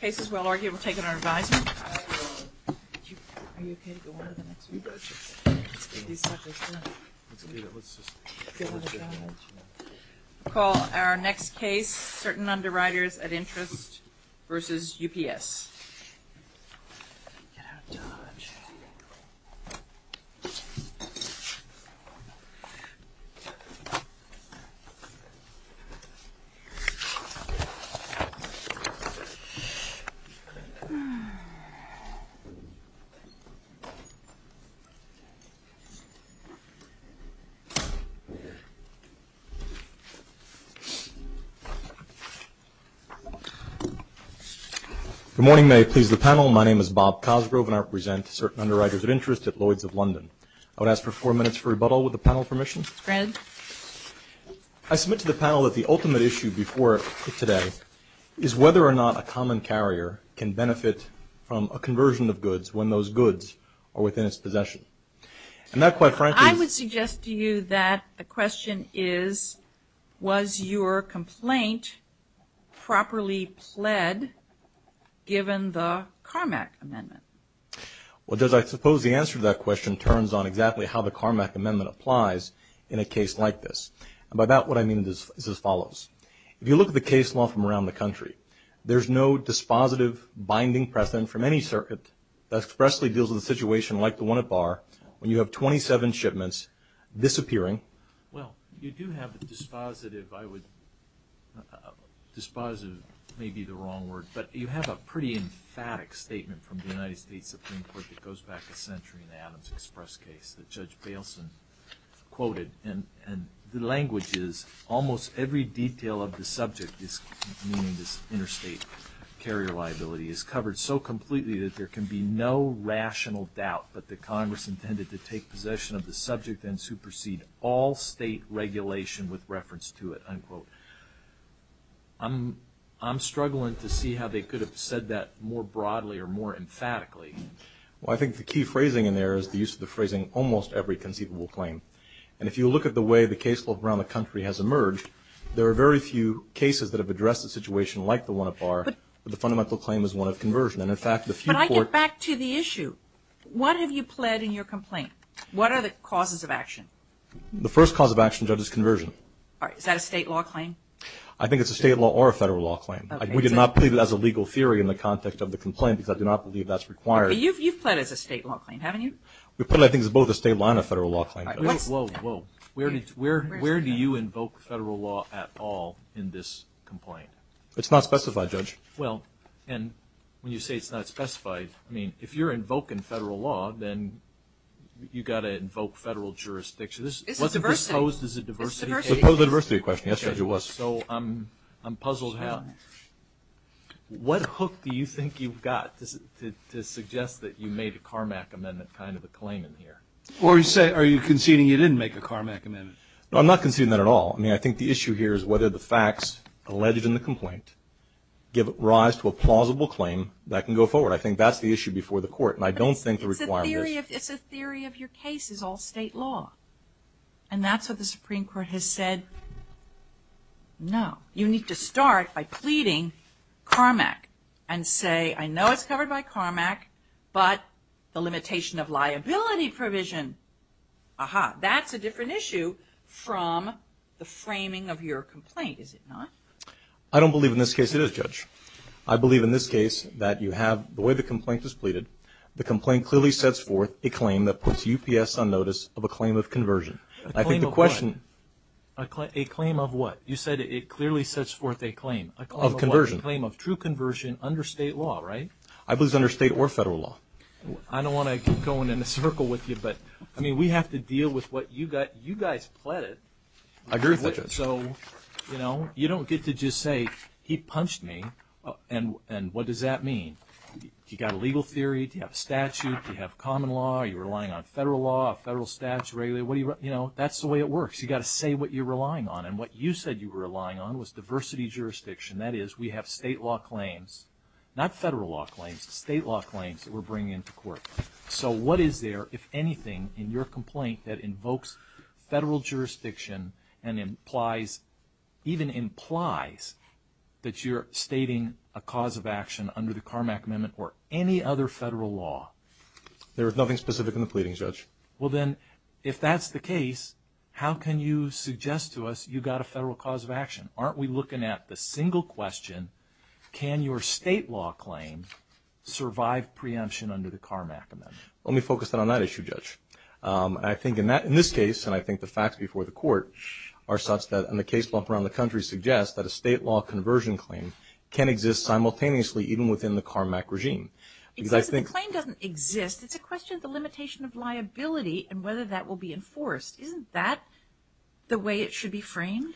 Cases well argued, we'll take it under advisory. We'll call our next case, Certain Underwriters at Interest v. UPS. Good morning, may I please the panel. My name is Bob Cosgrove and I represent Certain Underwriters at Interest at Lloyd's of London. I would ask for four minutes for rebuttal with the panel permission. Granted. I submit to the panel that the ultimate issue before today is whether or not a common carrier can benefit from a conversion of goods when those goods are within its possession. And that quite frankly I would suggest to you that the question is, was your complaint properly pled given the Carmack Amendment? Well, I suppose the answer to that question turns on exactly how the Carmack Amendment applies in a case like this. And by that, what I mean is as follows. If you look at the case law from around the country, there's no dispositive binding precedent from any circuit that expressly deals with a situation like the one at Barr, when you have 27 shipments disappearing. Well, you do have a dispositive, I would, dispositive may be the wrong word, but you have a pretty emphatic statement from the United States Supreme Court that goes back a century in Adams Express case that Judge Bailson quoted. And the language is, almost every detail of the subject is, meaning this interstate carrier liability, is covered so completely that there can be no rational doubt that the Congress intended to take possession of the subject and supersede all state regulation with reference to it, unquote. I'm struggling to see how they could have said that more broadly or more emphatically. Well, I think the key phrasing in there is the use of the phrasing, almost every conceivable claim. And if you look at the way the case law around the country has emerged, there are very few cases that have addressed a situation like the one at Barr where the fundamental claim is one of conversion. And, in fact, the few courts But I get back to the issue. What have you pled in your complaint? What are the causes of action? The first cause of action, Judge's conversion. All right. Is that a state law claim? I think it's a state law or a federal law claim. Okay. We did not plead it as a legal theory in the context of the complaint because I do not believe that's required. But you've pled as a state law claim, haven't you? We've pled, I think, as both a state law and a federal law claim. All right. Whoa, whoa, whoa. Where do you invoke federal law at all in this complaint? It's not specified, Judge. Well, and when you say it's not specified, I mean, if you're invoking federal law, then you've got to invoke federal jurisdiction. This is diversity. What's it proposed? Is it diversity? It's a diversity. It's a diversity question. Yes, Judge, it was. All right. So I'm puzzled how, what hook do you think you've got to suggest that you made a Carmack amendment kind of a claim in here? Or you say, are you conceding you didn't make a Carmack amendment? No, I'm not conceding that at all. I mean, I think the issue here is whether the facts alleged in the complaint give rise to a plausible claim that can go forward. I think that's the issue before the court, and I don't think the requirement is... It's a theory of your case. It's all state law. And that's what the Supreme Court has said, no. You need to start by pleading Carmack and say, I know it's covered by Carmack, but the limitation of liability provision, aha, that's a different issue from the framing of your complaint, is it not? I don't believe in this case it is, Judge. I believe in this case that you have, the way the complaint is pleaded, the complaint clearly sets forth a claim that puts UPS on notice of a claim of conversion. I think the question... A claim of what? A claim of what? You said it clearly sets forth a claim. A claim of what? A claim of true conversion under state law, right? I believe it's under state or federal law. I don't want to keep going in a circle with you, but I mean, we have to deal with what you guys pleaded. I agree with that, Judge. So you don't get to just say, he punched me, and what does that mean? You got a legal theory, do you have a statute, do you have common law, are you relying on federal law, a federal statute, what do you... That's the way it works. You got to say what you're relying on, and what you said you were relying on was diversity jurisdiction. That is, we have state law claims, not federal law claims, state law claims that we're bringing into court. So what is there, if anything, in your complaint that invokes federal jurisdiction and implies, even implies, that you're stating a cause of action under the Carmack Amendment or any other federal law? There is nothing specific in the pleadings, Judge. Well then, if that's the case, how can you suggest to us you got a federal cause of action? Aren't we looking at the single question, can your state law claim survive preemption under the Carmack Amendment? Let me focus in on that issue, Judge. I think in this case, and I think the facts before the court are such that, and the case lump around the country suggests, that a state law conversion claim can exist simultaneously even within the Carmack regime. Because if the claim doesn't exist, it's a question of the limitation of liability and whether that will be enforced. Isn't that the way it should be framed?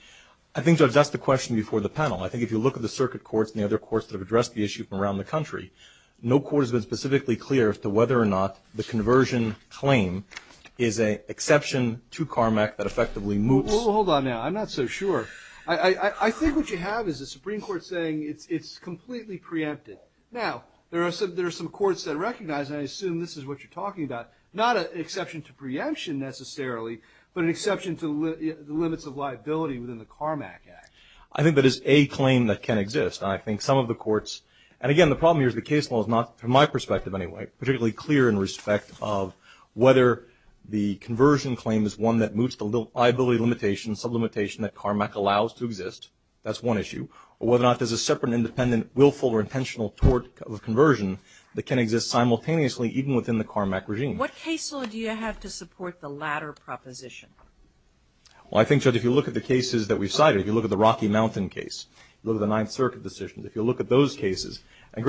I think, Judge, that's the question before the panel. I think if you look at the circuit courts and the other courts that have addressed the issue from around the country, no court has been specifically clear as to whether or not the conversion claim is an exception to Carmack that effectively moves. Well, hold on now. I'm not so sure. I think what you have is a Supreme Court saying it's completely preempted. Now, there are some courts that recognize, and I assume this is what you're talking about, not an exception to preemption necessarily, but an exception to the limits of liability within the Carmack Act. I think that is a claim that can exist. I think some of the courts, and again, the problem here is the case law is not, from my perspective anyway, particularly clear in respect of whether the conversion claim is one that moves to liability limitation, sublimitation that Carmack allows to exist. That's one issue. Or whether or not there's a separate, independent, willful, or intentional tort of conversion that can exist simultaneously even within the Carmack regime. What case law do you have to support the latter proposition? Well, I think, Judge, if you look at the cases that we cited, if you look at the Rocky Mountain case, look at the Ninth Circuit decision, if you look at those cases, and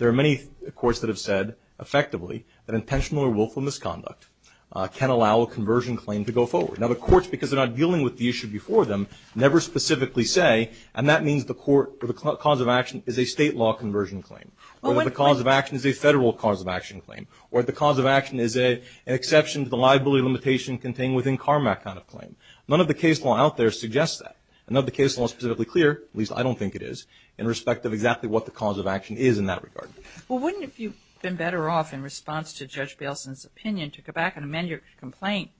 there are many courts that have said, effectively, that intentional or willful misconduct can allow a conversion claim to go forward. Now, the courts, because they're not dealing with the issue before them, never specifically say, and that means the court or the cause of action is a state law conversion claim, or the cause of action is a federal cause of action claim, or the cause of action is an exception to the liability limitation contained within Carmack kind of claim. None of the case law out there suggests that. None of the case law is specifically clear, at least I don't think it is, in respect of exactly what the cause of action is in that regard. Well, wouldn't it be better off, in response to Judge Bailson's opinion, to go back and amend your complaint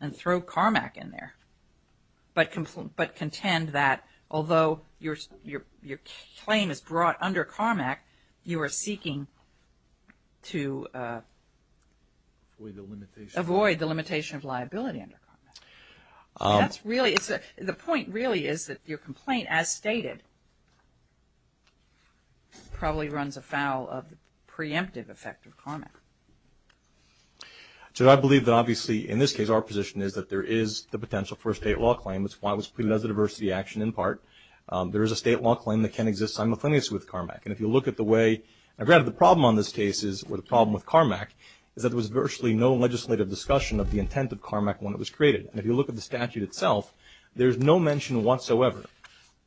and throw Carmack in there, but contend that although your claim is brought under Carmack, you are seeking to avoid the limitation of liability under Carmack? That's really, the point really is that your complaint, as stated, probably runs afoul of the preemptive effect of Carmack. Judge, I believe that obviously, in this case, our position is that there is the potential for a state law claim. That's why it was treated as a diversity action, in part. There is a state law claim that can exist simultaneously with Carmack. And if you look at the way, and granted, the problem on this case is, or the problem with Carmack, is that there was virtually no legislative discussion of the intent of Carmack when it was created. And if you look at the statute itself, there's no mention whatsoever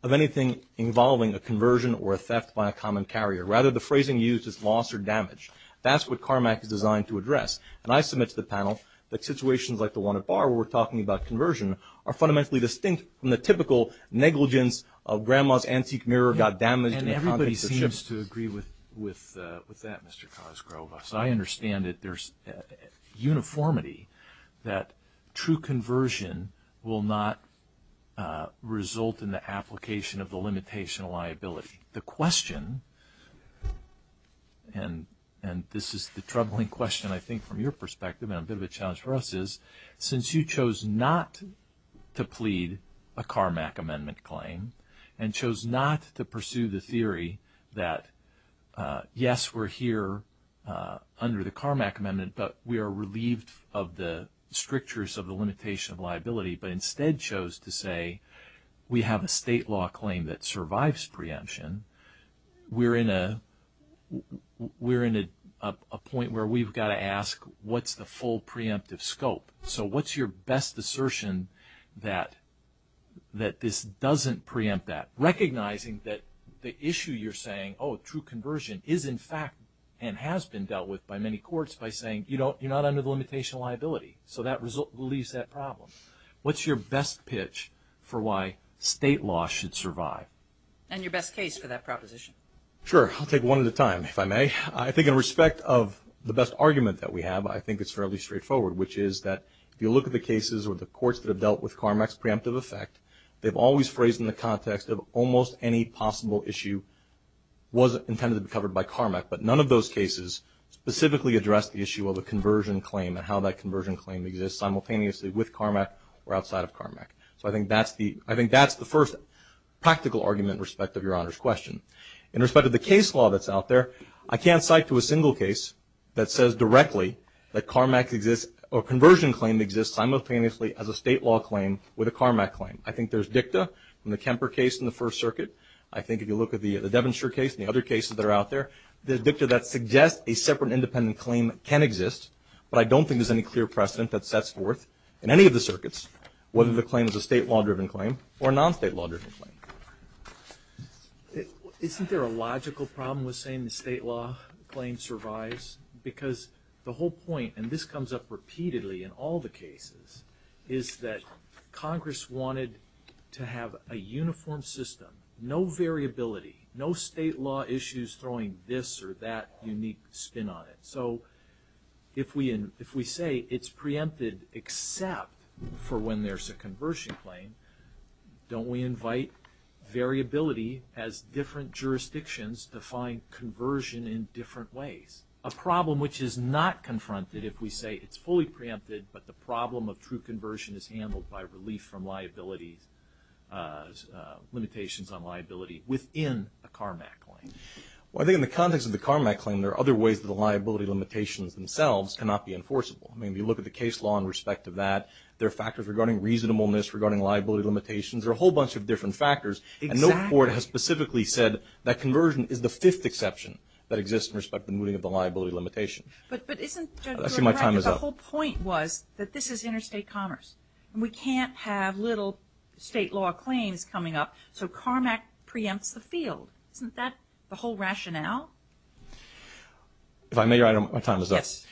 of anything involving a conversion or a theft by a common carrier. Rather, the phrasing used is loss or damage. That's what Carmack is designed to address. And I submit to the panel that situations like the one at Bar where we're talking about conversion are fundamentally distinct from the typical negligence of grandma's antique mirror got damaged in the context of the ship. And everybody seems to agree with that, Mr. Cosgrove. So I understand that there's uniformity, that true conversion will not result in the application of the limitation of liability. The question, and this is the troubling question, I think, from your perspective, and a bit of a challenge for us is, since you chose not to plead a Carmack amendment claim, and yes, we're here under the Carmack amendment, but we are relieved of the strictures of the limitation of liability, but instead chose to say, we have a state law claim that survives preemption, we're in a point where we've got to ask, what's the full preemptive scope? So what's your best assertion that this doesn't preempt that? Recognizing that the issue you're saying, oh, true conversion is in fact and has been dealt with by many courts by saying, you're not under the limitation of liability. So that leaves that problem. What's your best pitch for why state law should survive? And your best case for that proposition. Sure. I'll take one at a time, if I may. I think in respect of the best argument that we have, I think it's fairly straightforward, which is that if you look at the cases or the courts that have dealt with Carmack's case, almost any possible issue was intended to be covered by Carmack, but none of those cases specifically address the issue of a conversion claim and how that conversion claim exists simultaneously with Carmack or outside of Carmack. So I think that's the first practical argument in respect of Your Honor's question. In respect of the case law that's out there, I can't cite to a single case that says directly that Carmack exists or conversion claim exists simultaneously as a state law claim with a Carmack claim. I think there's dicta in the Kemper case in the First Circuit. I think if you look at the Devonshire case and the other cases that are out there, there's dicta that suggests a separate independent claim can exist, but I don't think there's any clear precedent that sets forth in any of the circuits whether the claim is a state law-driven claim or a non-state law-driven claim. Isn't there a logical problem with saying the state law claim survives? Because the whole point, and this comes up repeatedly in all the cases, is that Congress wanted to have a uniform system, no variability, no state law issues throwing this or that unique spin on it. So if we say it's preempted except for when there's a conversion claim, don't we invite variability as different jurisdictions define conversion in different ways? A problem which is not confronted if we say it's fully preempted but the problem of true liabilities, limitations on liability within a Carmack claim. Well, I think in the context of the Carmack claim, there are other ways that the liability limitations themselves cannot be enforceable. I mean, if you look at the case law in respect of that, there are factors regarding reasonableness, regarding liability limitations. There are a whole bunch of different factors. Exactly. And no court has specifically said that conversion is the fifth exception that exists in respect of the moving of the liability limitation. But isn't the whole point was that this is interstate commerce and we can't have little state law claims coming up. So Carmack preempts the field. Isn't that the whole rationale? If I may, your time is up. Yes.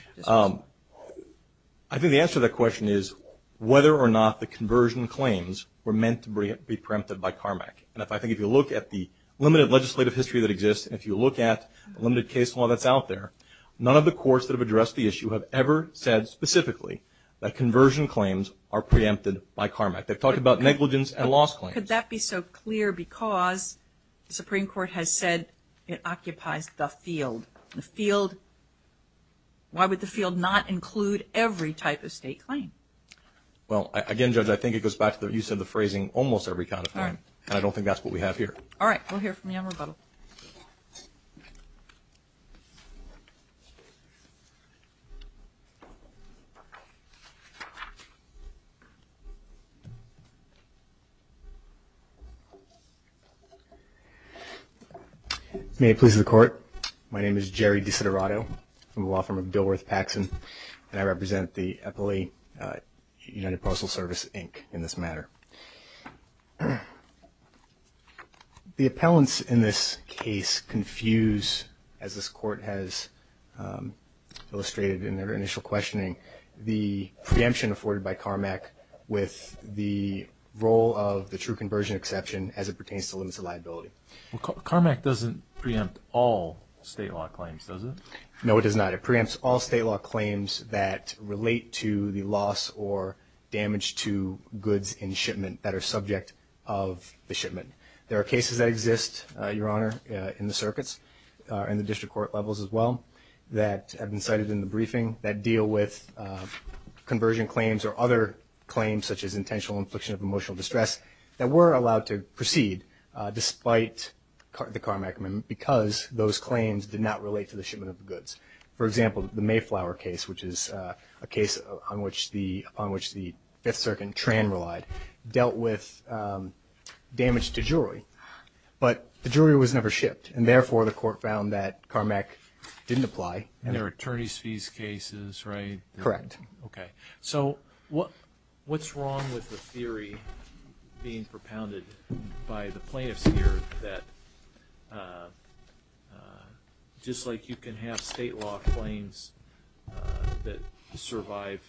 I think the answer to that question is whether or not the conversion claims were meant to be preempted by Carmack. And I think if you look at the limited legislative history that exists and if you look at the limited case law that's out there, none of the courts that have addressed the issue have ever said specifically that conversion claims are preempted by Carmack. They've talked about negligence and loss claims. Could that be so clear because the Supreme Court has said it occupies the field. The field, why would the field not include every type of state claim? Well, again, Judge, I think it goes back to the use of the phrasing almost every kind of claim. And I don't think that's what we have here. All right. We'll hear from you on rebuttal. May it please the Court. My name is Jerry Disiderato. I'm a law firm of Dilworth Paxson and I represent the Eppley United Postal Service, Inc., in this matter. The appellants in this case confuse, as this Court has illustrated in their initial questioning, the preemption afforded by Carmack with the role of the true conversion exception as it pertains to limits of liability. Carmack doesn't preempt all state law claims, does it? No, it does not. It preempts all state law claims that relate to the loss or damage to goods in shipment that are subject of the shipment. There are cases that exist, Your Honor, in the circuits and the district court levels as well that have been cited in the briefing that deal with conversion claims or other claims such as intentional infliction of emotional distress that were allowed to proceed despite the Carmack amendment because those claims did not relate to the shipment of goods. For example, the Mayflower case, which is a case upon which the Fifth Circuit and Tran relied, dealt with damage to jewelry, but the jewelry was never shipped and therefore the Court found that Carmack didn't apply. And there are attorneys' fees cases, right? Correct. Okay. So what's wrong with the theory being propounded by the plaintiffs here that just like you can have state law claims that survive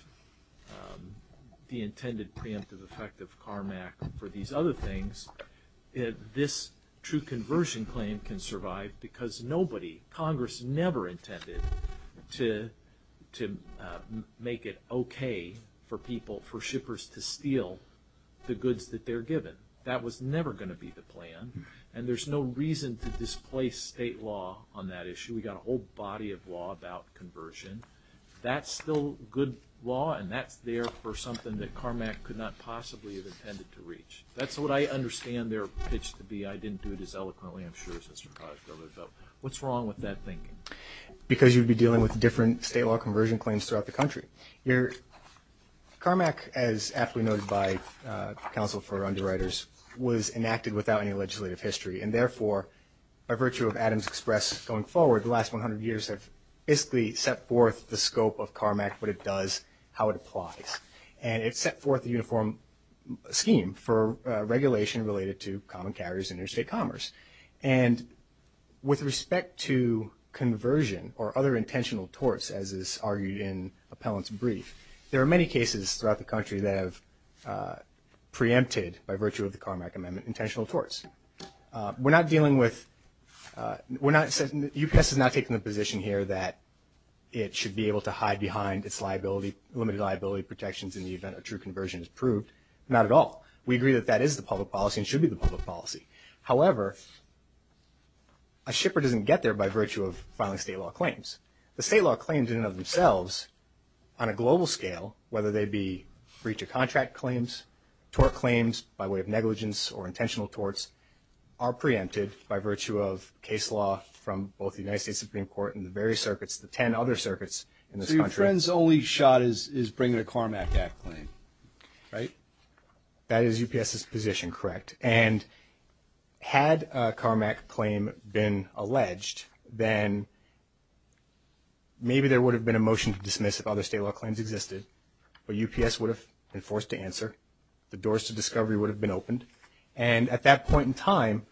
the intended preemptive effect of Carmack for these other things, this true conversion claim can survive because nobody, Congress never intended to make it okay for people, for shippers to steal the goods that they're given. That was never going to be the plan, and there's no reason to displace state law on that issue. We've got a whole body of law about conversion. That's still good law, and that's there for something that Carmack could not possibly have intended to reach. That's what I understand their pitch to be. I didn't do it as eloquently, I'm sure, as Mr. Kostova, but what's wrong with that thinking? Because you'd be dealing with different state law conversion claims throughout the country. Carmack, as aptly noted by counsel for underwriters, was enacted without any legislative history, and therefore, by virtue of Adams Express going forward, the last 100 years have basically set forth the scope of Carmack, what it does, how it applies. And it set forth a uniform scheme for regulation related to common carriers and interstate commerce. And with respect to conversion or other intentional torts, as is argued in Appellant's brief, there are many cases throughout the country that have preempted, by virtue of the Carmack Amendment, intentional torts. UPS is not taking the position here that it should be able to hide behind its limited liability protections in the event a true conversion is proved. Not at all. We agree that that is the public policy and should be the public policy. However, a shipper doesn't get there by virtue of filing state law claims. The state law claims in and of themselves, on a global scale, whether they be breach of contract claims, tort claims by way of negligence or intentional torts, are preempted by virtue of case law from both the United States Supreme Court and the various circuits, the 10 other circuits in this country. So your friend's only shot is bringing a Carmack Act claim, right? That is UPS's position, correct. And had a Carmack claim been alleged, then maybe there would have been a motion to dismiss if other state law claims existed. But UPS would have been forced to answer. The doors to discovery would have been opened. And at that point in time,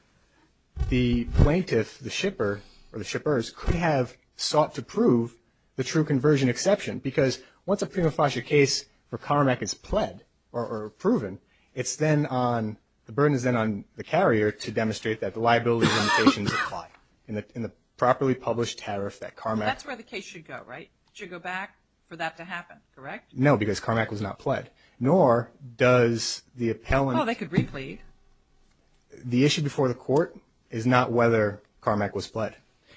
the plaintiff, the shipper, or the shippers, could have sought to prove the true conversion exception because once a prima facie case for Carmack is pled or proven, it's then on, the burden is then on the carrier to demonstrate that the liability limitations apply in the properly published tariff that Carmack. That's where the case should go, right? Should go back for that to happen, correct? No, because Carmack was not pled. Nor does the appellant. Well, they could replete. The issue before the court is not whether Carmack was pled.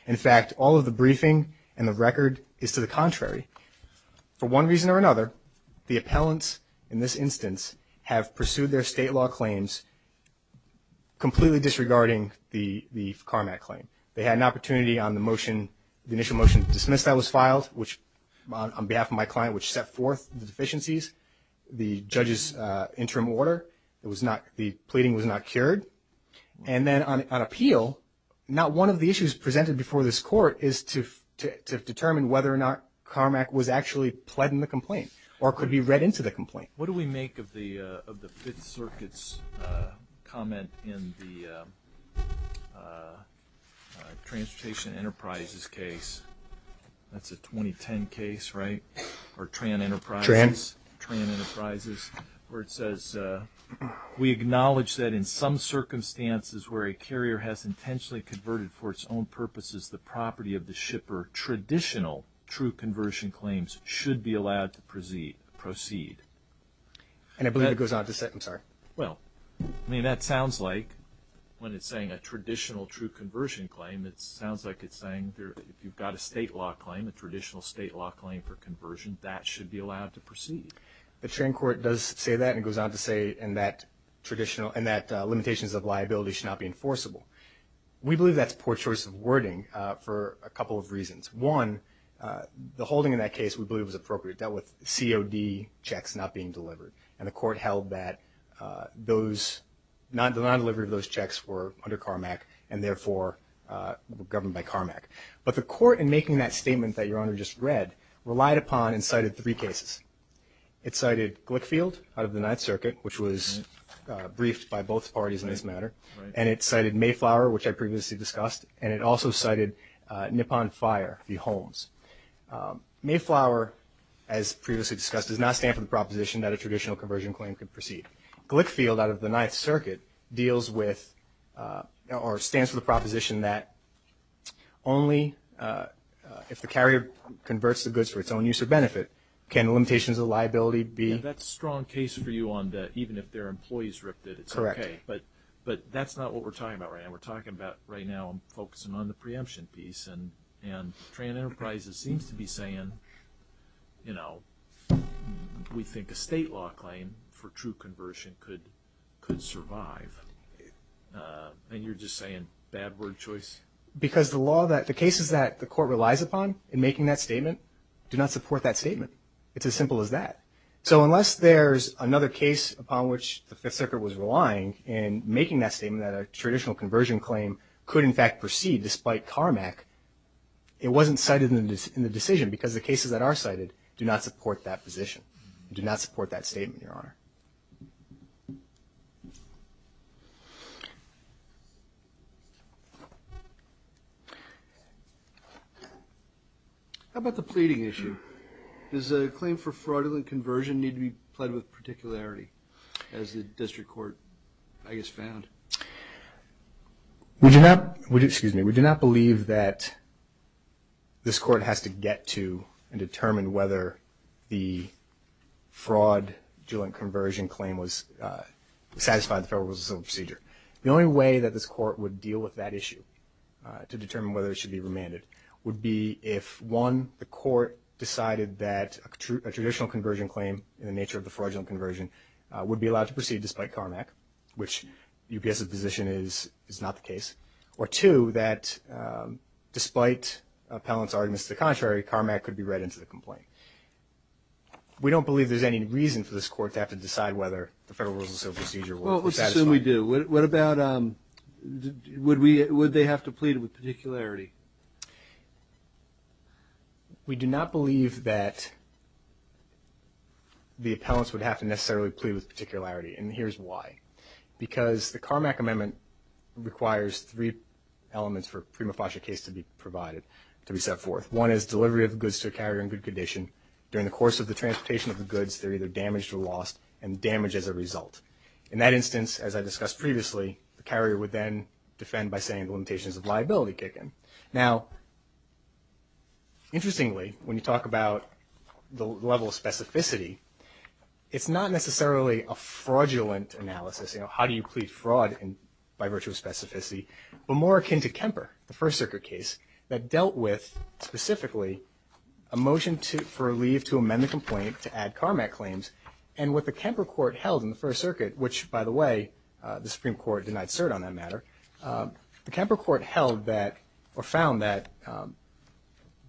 In fact, all of the briefing and the record is to the contrary. For one reason or another, the appellants in this instance have pursued their state law claims completely disregarding the Carmack claim. They had an opportunity on the motion, the initial motion to dismiss that was filed, which on behalf of my client, which set forth the deficiencies, the judge's interim order. It was not, the pleading was not cured. And then on appeal, not one of the issues presented before this court is to determine whether or not Carmack was actually pled in the complaint or could be read into the complaint. What do we make of the Fifth Circuit's comment in the Transportation Enterprises case? That's a 2010 case, right? Or Tran Enterprises? Tran. Tran Enterprises, where it says, we acknowledge that in some circumstances where a carrier has intentionally converted for its own purposes the property of the shipper, traditional true conversion claims should be allowed to proceed. And I believe it goes on to say, I'm sorry. Well, I mean, that sounds like when it's saying a traditional true conversion claim, it sounds like it's saying if you've got a state law claim, a traditional state law claim for conversion, that should be allowed to proceed. The sharing court does say that and it goes on to say in that limitations of liability should not be enforceable. We believe that's a poor choice of wording for a couple of reasons. One, the holding in that case we believe was appropriate. It dealt with COD checks not being delivered. And the court held that those, the non-delivery of those checks were under Carmack and therefore governed by Carmack. But the court in making that statement that your Honor just read relied upon and cited three cases. It cited Glickfield out of the Ninth Circuit, which was briefed by both parties in this matter. And it cited Mayflower, which I previously discussed. And it also cited Nippon Fire v. Holmes. Mayflower, as previously discussed, does not stand for the proposition that a traditional conversion claim could proceed. Glickfield out of the Ninth Circuit deals with or stands for the proposition that only if the carrier converts the goods for its own use or benefit can the limitations of liability be. And that's a strong case for you on that, even if their employees ripped it, it's okay. But that's not what we're talking about right now. We're talking about right now, I'm focusing on the preemption piece. And Tran Enterprises seems to be saying, you know, we think a state law claim for true conversion could survive. And you're just saying bad word choice? Because the law that, the cases that the court relies upon in making that statement do not support that statement. It's as simple as that. So unless there's another case upon which the Fifth Circuit was relying in making that statement that a traditional conversion claim could in fact proceed despite CARMAC, it wasn't cited in the decision because the cases that are cited do not support that position, do not support that statement, Your Honor. How about the pleading issue? Does a claim for fraudulent conversion need to be pled with particularity, as the district court, I guess, found? We do not, excuse me, we do not believe that this court has to get to and determine whether the fraudulent conversion claim was, satisfied the Federal Rules of Civil Procedure. The only way that this court would deal with that issue, to determine whether it should be remanded, would be if, one, the court decided that a traditional conversion claim in the nature of the fraudulent conversion would be allowed to proceed despite CARMAC, which UPS's position is not the case, or two, that despite appellant's arguments to the contrary, CARMAC could be read into the complaint. We don't believe there's any reason for this court to have to decide whether the Federal Rules of Civil Procedure would satisfy. Well, let's assume we do. What about, would they have to plead with particularity? We do not believe that the appellants would have to necessarily plead with particularity, and here's why. Because the CARMAC amendment requires three elements for a prima facie case to be provided, to be set forth. One is delivery of goods to a carrier in good condition. During the course of the transportation of the goods, they're either damaged or lost, and damaged as a result. In that instance, as I discussed previously, the carrier would then defend by saying the limitations of liability kick in. Now, interestingly, when you talk about the level of specificity, it's not necessarily a fraudulent analysis, you know, how do you plead fraud by virtue of specificity, but more akin to Kemper, the First Circuit case, that dealt with, specifically, a motion for a leave to amend the complaint to add CARMAC claims. And what the Kemper court held in the First Circuit, which, by the way, the Supreme Court denied cert on that matter, the Kemper court held that or found that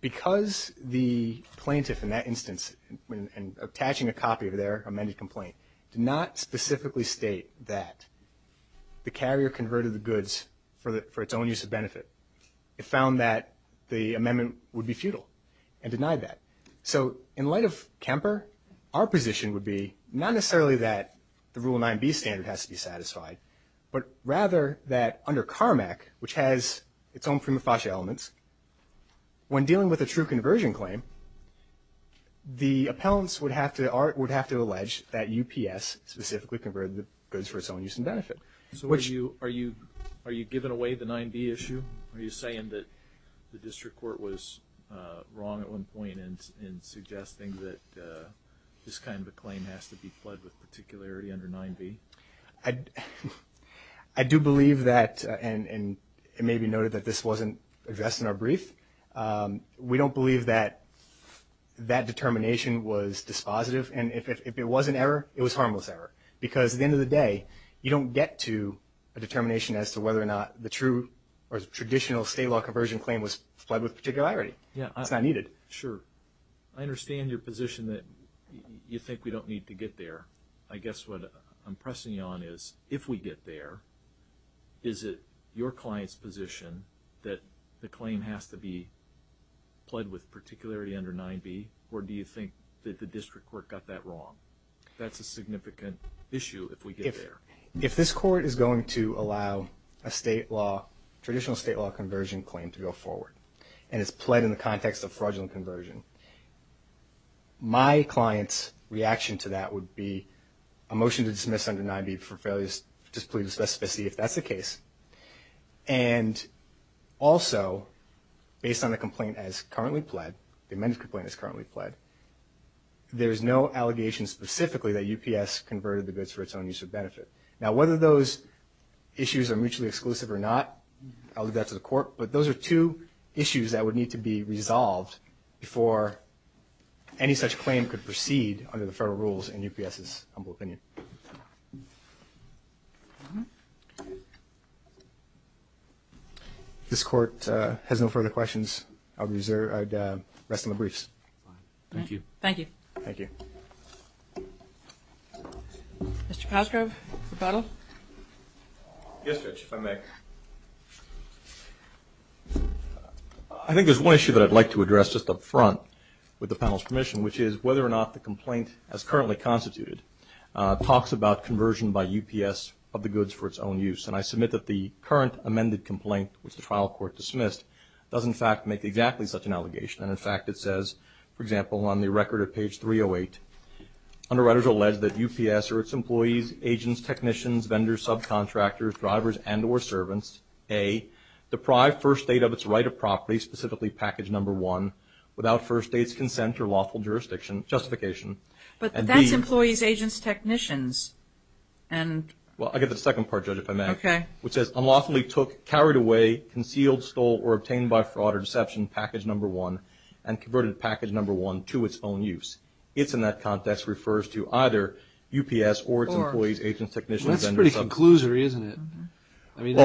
because the plaintiff, in that instance, in attaching a copy of their amended complaint, did not specifically state that the carrier converted the goods for its own use of benefit, it found that the amendment would be futile and denied that. So in light of Kemper, our position would be, not necessarily that the Rule 9b standard has to be satisfied, but rather that under CARMAC, which has its own prima facie elements, when dealing with a true conversion claim, the appellants would have to allege that UPS specifically converted the goods for its own use and benefit. So are you giving away the 9b issue? Are you saying that the district court was wrong at one point in suggesting that this kind of a claim has to be fled with particularity under 9b? I do believe that, and it may be noted that this wasn't addressed in our brief, we don't believe that that determination was dispositive, and if it was an error, it was a harmless error. Because at the end of the day, you don't get to a determination as to whether or not the true or traditional state law conversion claim was fled with particularity. It's not needed. Sure. I understand your position that you think we don't need to get there. I guess what I'm pressing you on is, if we get there, is it your client's position that the claim has to be fled with particularity under 9b, or do you think that the district court got that wrong? That's a significant issue if we get there. If this court is going to allow a traditional state law conversion claim to go forward and it's pled in the context of fraudulent conversion, my client's reaction to that would be a motion to dismiss under 9b for failure to display the specificity if that's the case. And also, based on the complaint as currently pled, the amended complaint as currently pled, there's no allegation specifically that UPS converted the goods for its own use or benefit. Now, whether those issues are mutually exclusive or not, I'll leave that to the court, but those are two issues that would need to be resolved before any such claim could proceed under the federal rules in UPS's humble opinion. Thank you. If this court has no further questions, I'd rest on the briefs. Thank you. Thank you. Thank you. Mr. Palsgrove, rebuttal? Yes, Judge, if I may. I think there's one issue that I'd like to address just up front with the panel's permission, which is whether or not the complaint as currently constituted talks about conversion by UPS of the goods for its own use. And I submit that the current amended complaint, which the trial court dismissed, does in fact make exactly such an allegation. And, in fact, it says, for example, on the record at page 308, underwriters allege that UPS or its employees, agents, technicians, vendors, subcontractors, drivers, and or servants, A, deprived First State of its right of property, specifically package number one, without First State's consent or lawful jurisdiction, justification. But that's employees, agents, technicians. Well, I'll get to the second part, Judge, if I may. Okay. Which says, unlawfully took, carried away, concealed, stole, or obtained by fraud or deception package number one, and converted package number one to its own use. It's in that context refers to either UPS or its employees, agents, technicians, vendors, subcontractors. That's a pretty conclusory, isn't it? I mean,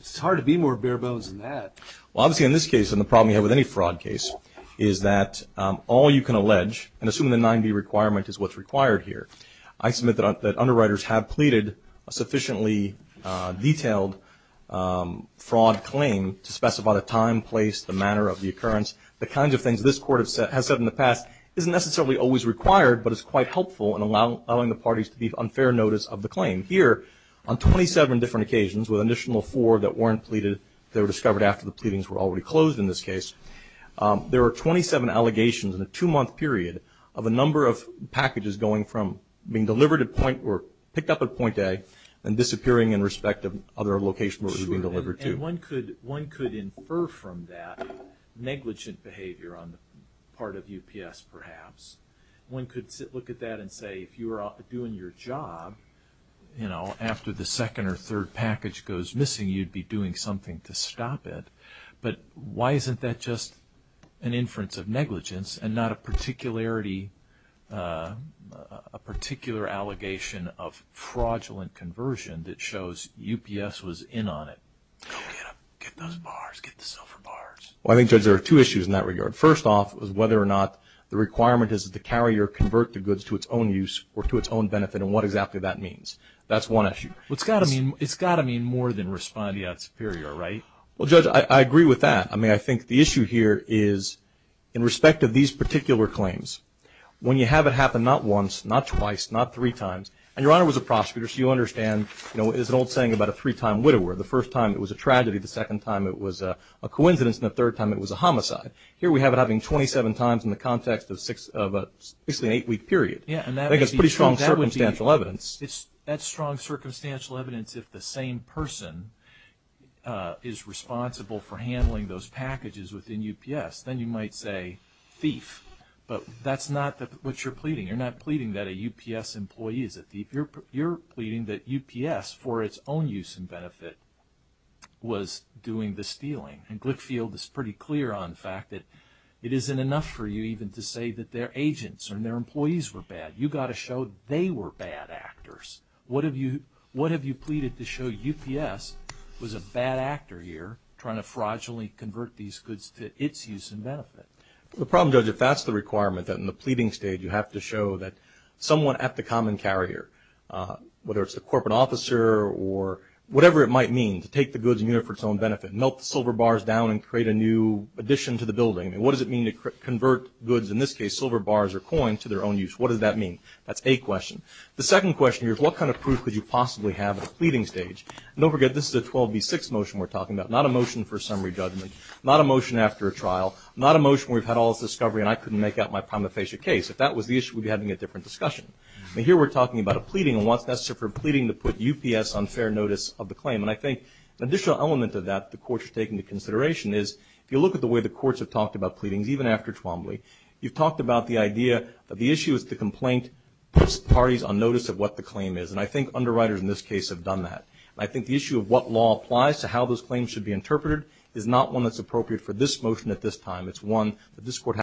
it's hard to be more bare bones than that. Well, obviously in this case, and the problem you have with any fraud case, is that all you can allege, and assuming the 9B requirement is what's required here, I submit that underwriters have pleaded a sufficiently detailed fraud claim to specify the time, place, the manner of the occurrence, the kinds of things this Court has said in the past isn't necessarily always required, but is quite helpful in allowing the parties to be on fair notice of the claim. Here, on 27 different occasions, with an additional four that weren't pleaded, that were discovered after the pleadings were already closed in this case, there were 27 allegations in a two-month period of a number of packages going from being delivered at point, or picked up at point A, and disappearing in respect of other locations where it was being delivered to. Sure, and one could infer from that negligent behavior on the part of UPS, perhaps. One could look at that and say, if you were doing your job, after the second or third package goes missing, you'd be doing something to stop it. But why isn't that just an inference of negligence, and not a particular allegation of fraudulent conversion that shows UPS was in on it? Go get them. Get those bars. Get the silver bars. Well, I think there are two issues in that regard. First off is whether or not the requirement is that the carrier convert the goods to its own use, or to its own benefit, and what exactly that means. That's one issue. Well, it's got to mean more than responding out superior, right? Well, Judge, I agree with that. I mean, I think the issue here is, in respect of these particular claims, when you have it happen not once, not twice, not three times, and Your Honor was a prosecutor, so you understand, you know, there's an old saying about a three-time widower. The first time it was a tragedy, the second time it was a coincidence, and the third time it was a homicide. Here we have it happening 27 times in the context of an eight-week period. I think that's pretty strong circumstantial evidence. That's strong circumstantial evidence. If the same person is responsible for handling those packages within UPS, then you might say thief, but that's not what you're pleading. You're not pleading that a UPS employee is a thief. You're pleading that UPS, for its own use and benefit, was doing the stealing, and Glickfield is pretty clear on the fact that it isn't enough for you even to say that their agents and their employees were bad. You've got to show they were bad actors. What have you pleaded to show UPS was a bad actor here, trying to fraudulently convert these goods to its use and benefit? The problem, Judge, if that's the requirement, that in the pleading stage you have to show that someone at the common carrier, whether it's the corporate officer or whatever it might mean, to take the goods and use it for its own benefit, melt the silver bars down and create a new addition to the building. What does it mean to convert goods, in this case silver bars or coins, to their own use? What does that mean? That's a question. The second question here is what kind of proof could you possibly have at the pleading stage? Don't forget, this is a 12B6 motion we're talking about, not a motion for summary judgment, not a motion after a trial, not a motion where we've had all this discovery and I couldn't make out my prima facie case. If that was the issue, we'd be having a different discussion. Here we're talking about a pleading, and what's necessary for a pleading to put UPS on fair notice of the claim. I think an additional element of that the court should take into consideration is if you look at the way the courts have talked about pleadings, even after Twombly, you've talked about the idea that the issue is the complaint puts parties on notice of what the claim is, and I think underwriters in this case have done that. I think the issue of what law applies to how those claims should be interpreted is not one that's appropriate for this motion at this time. It's one that this court has to consider.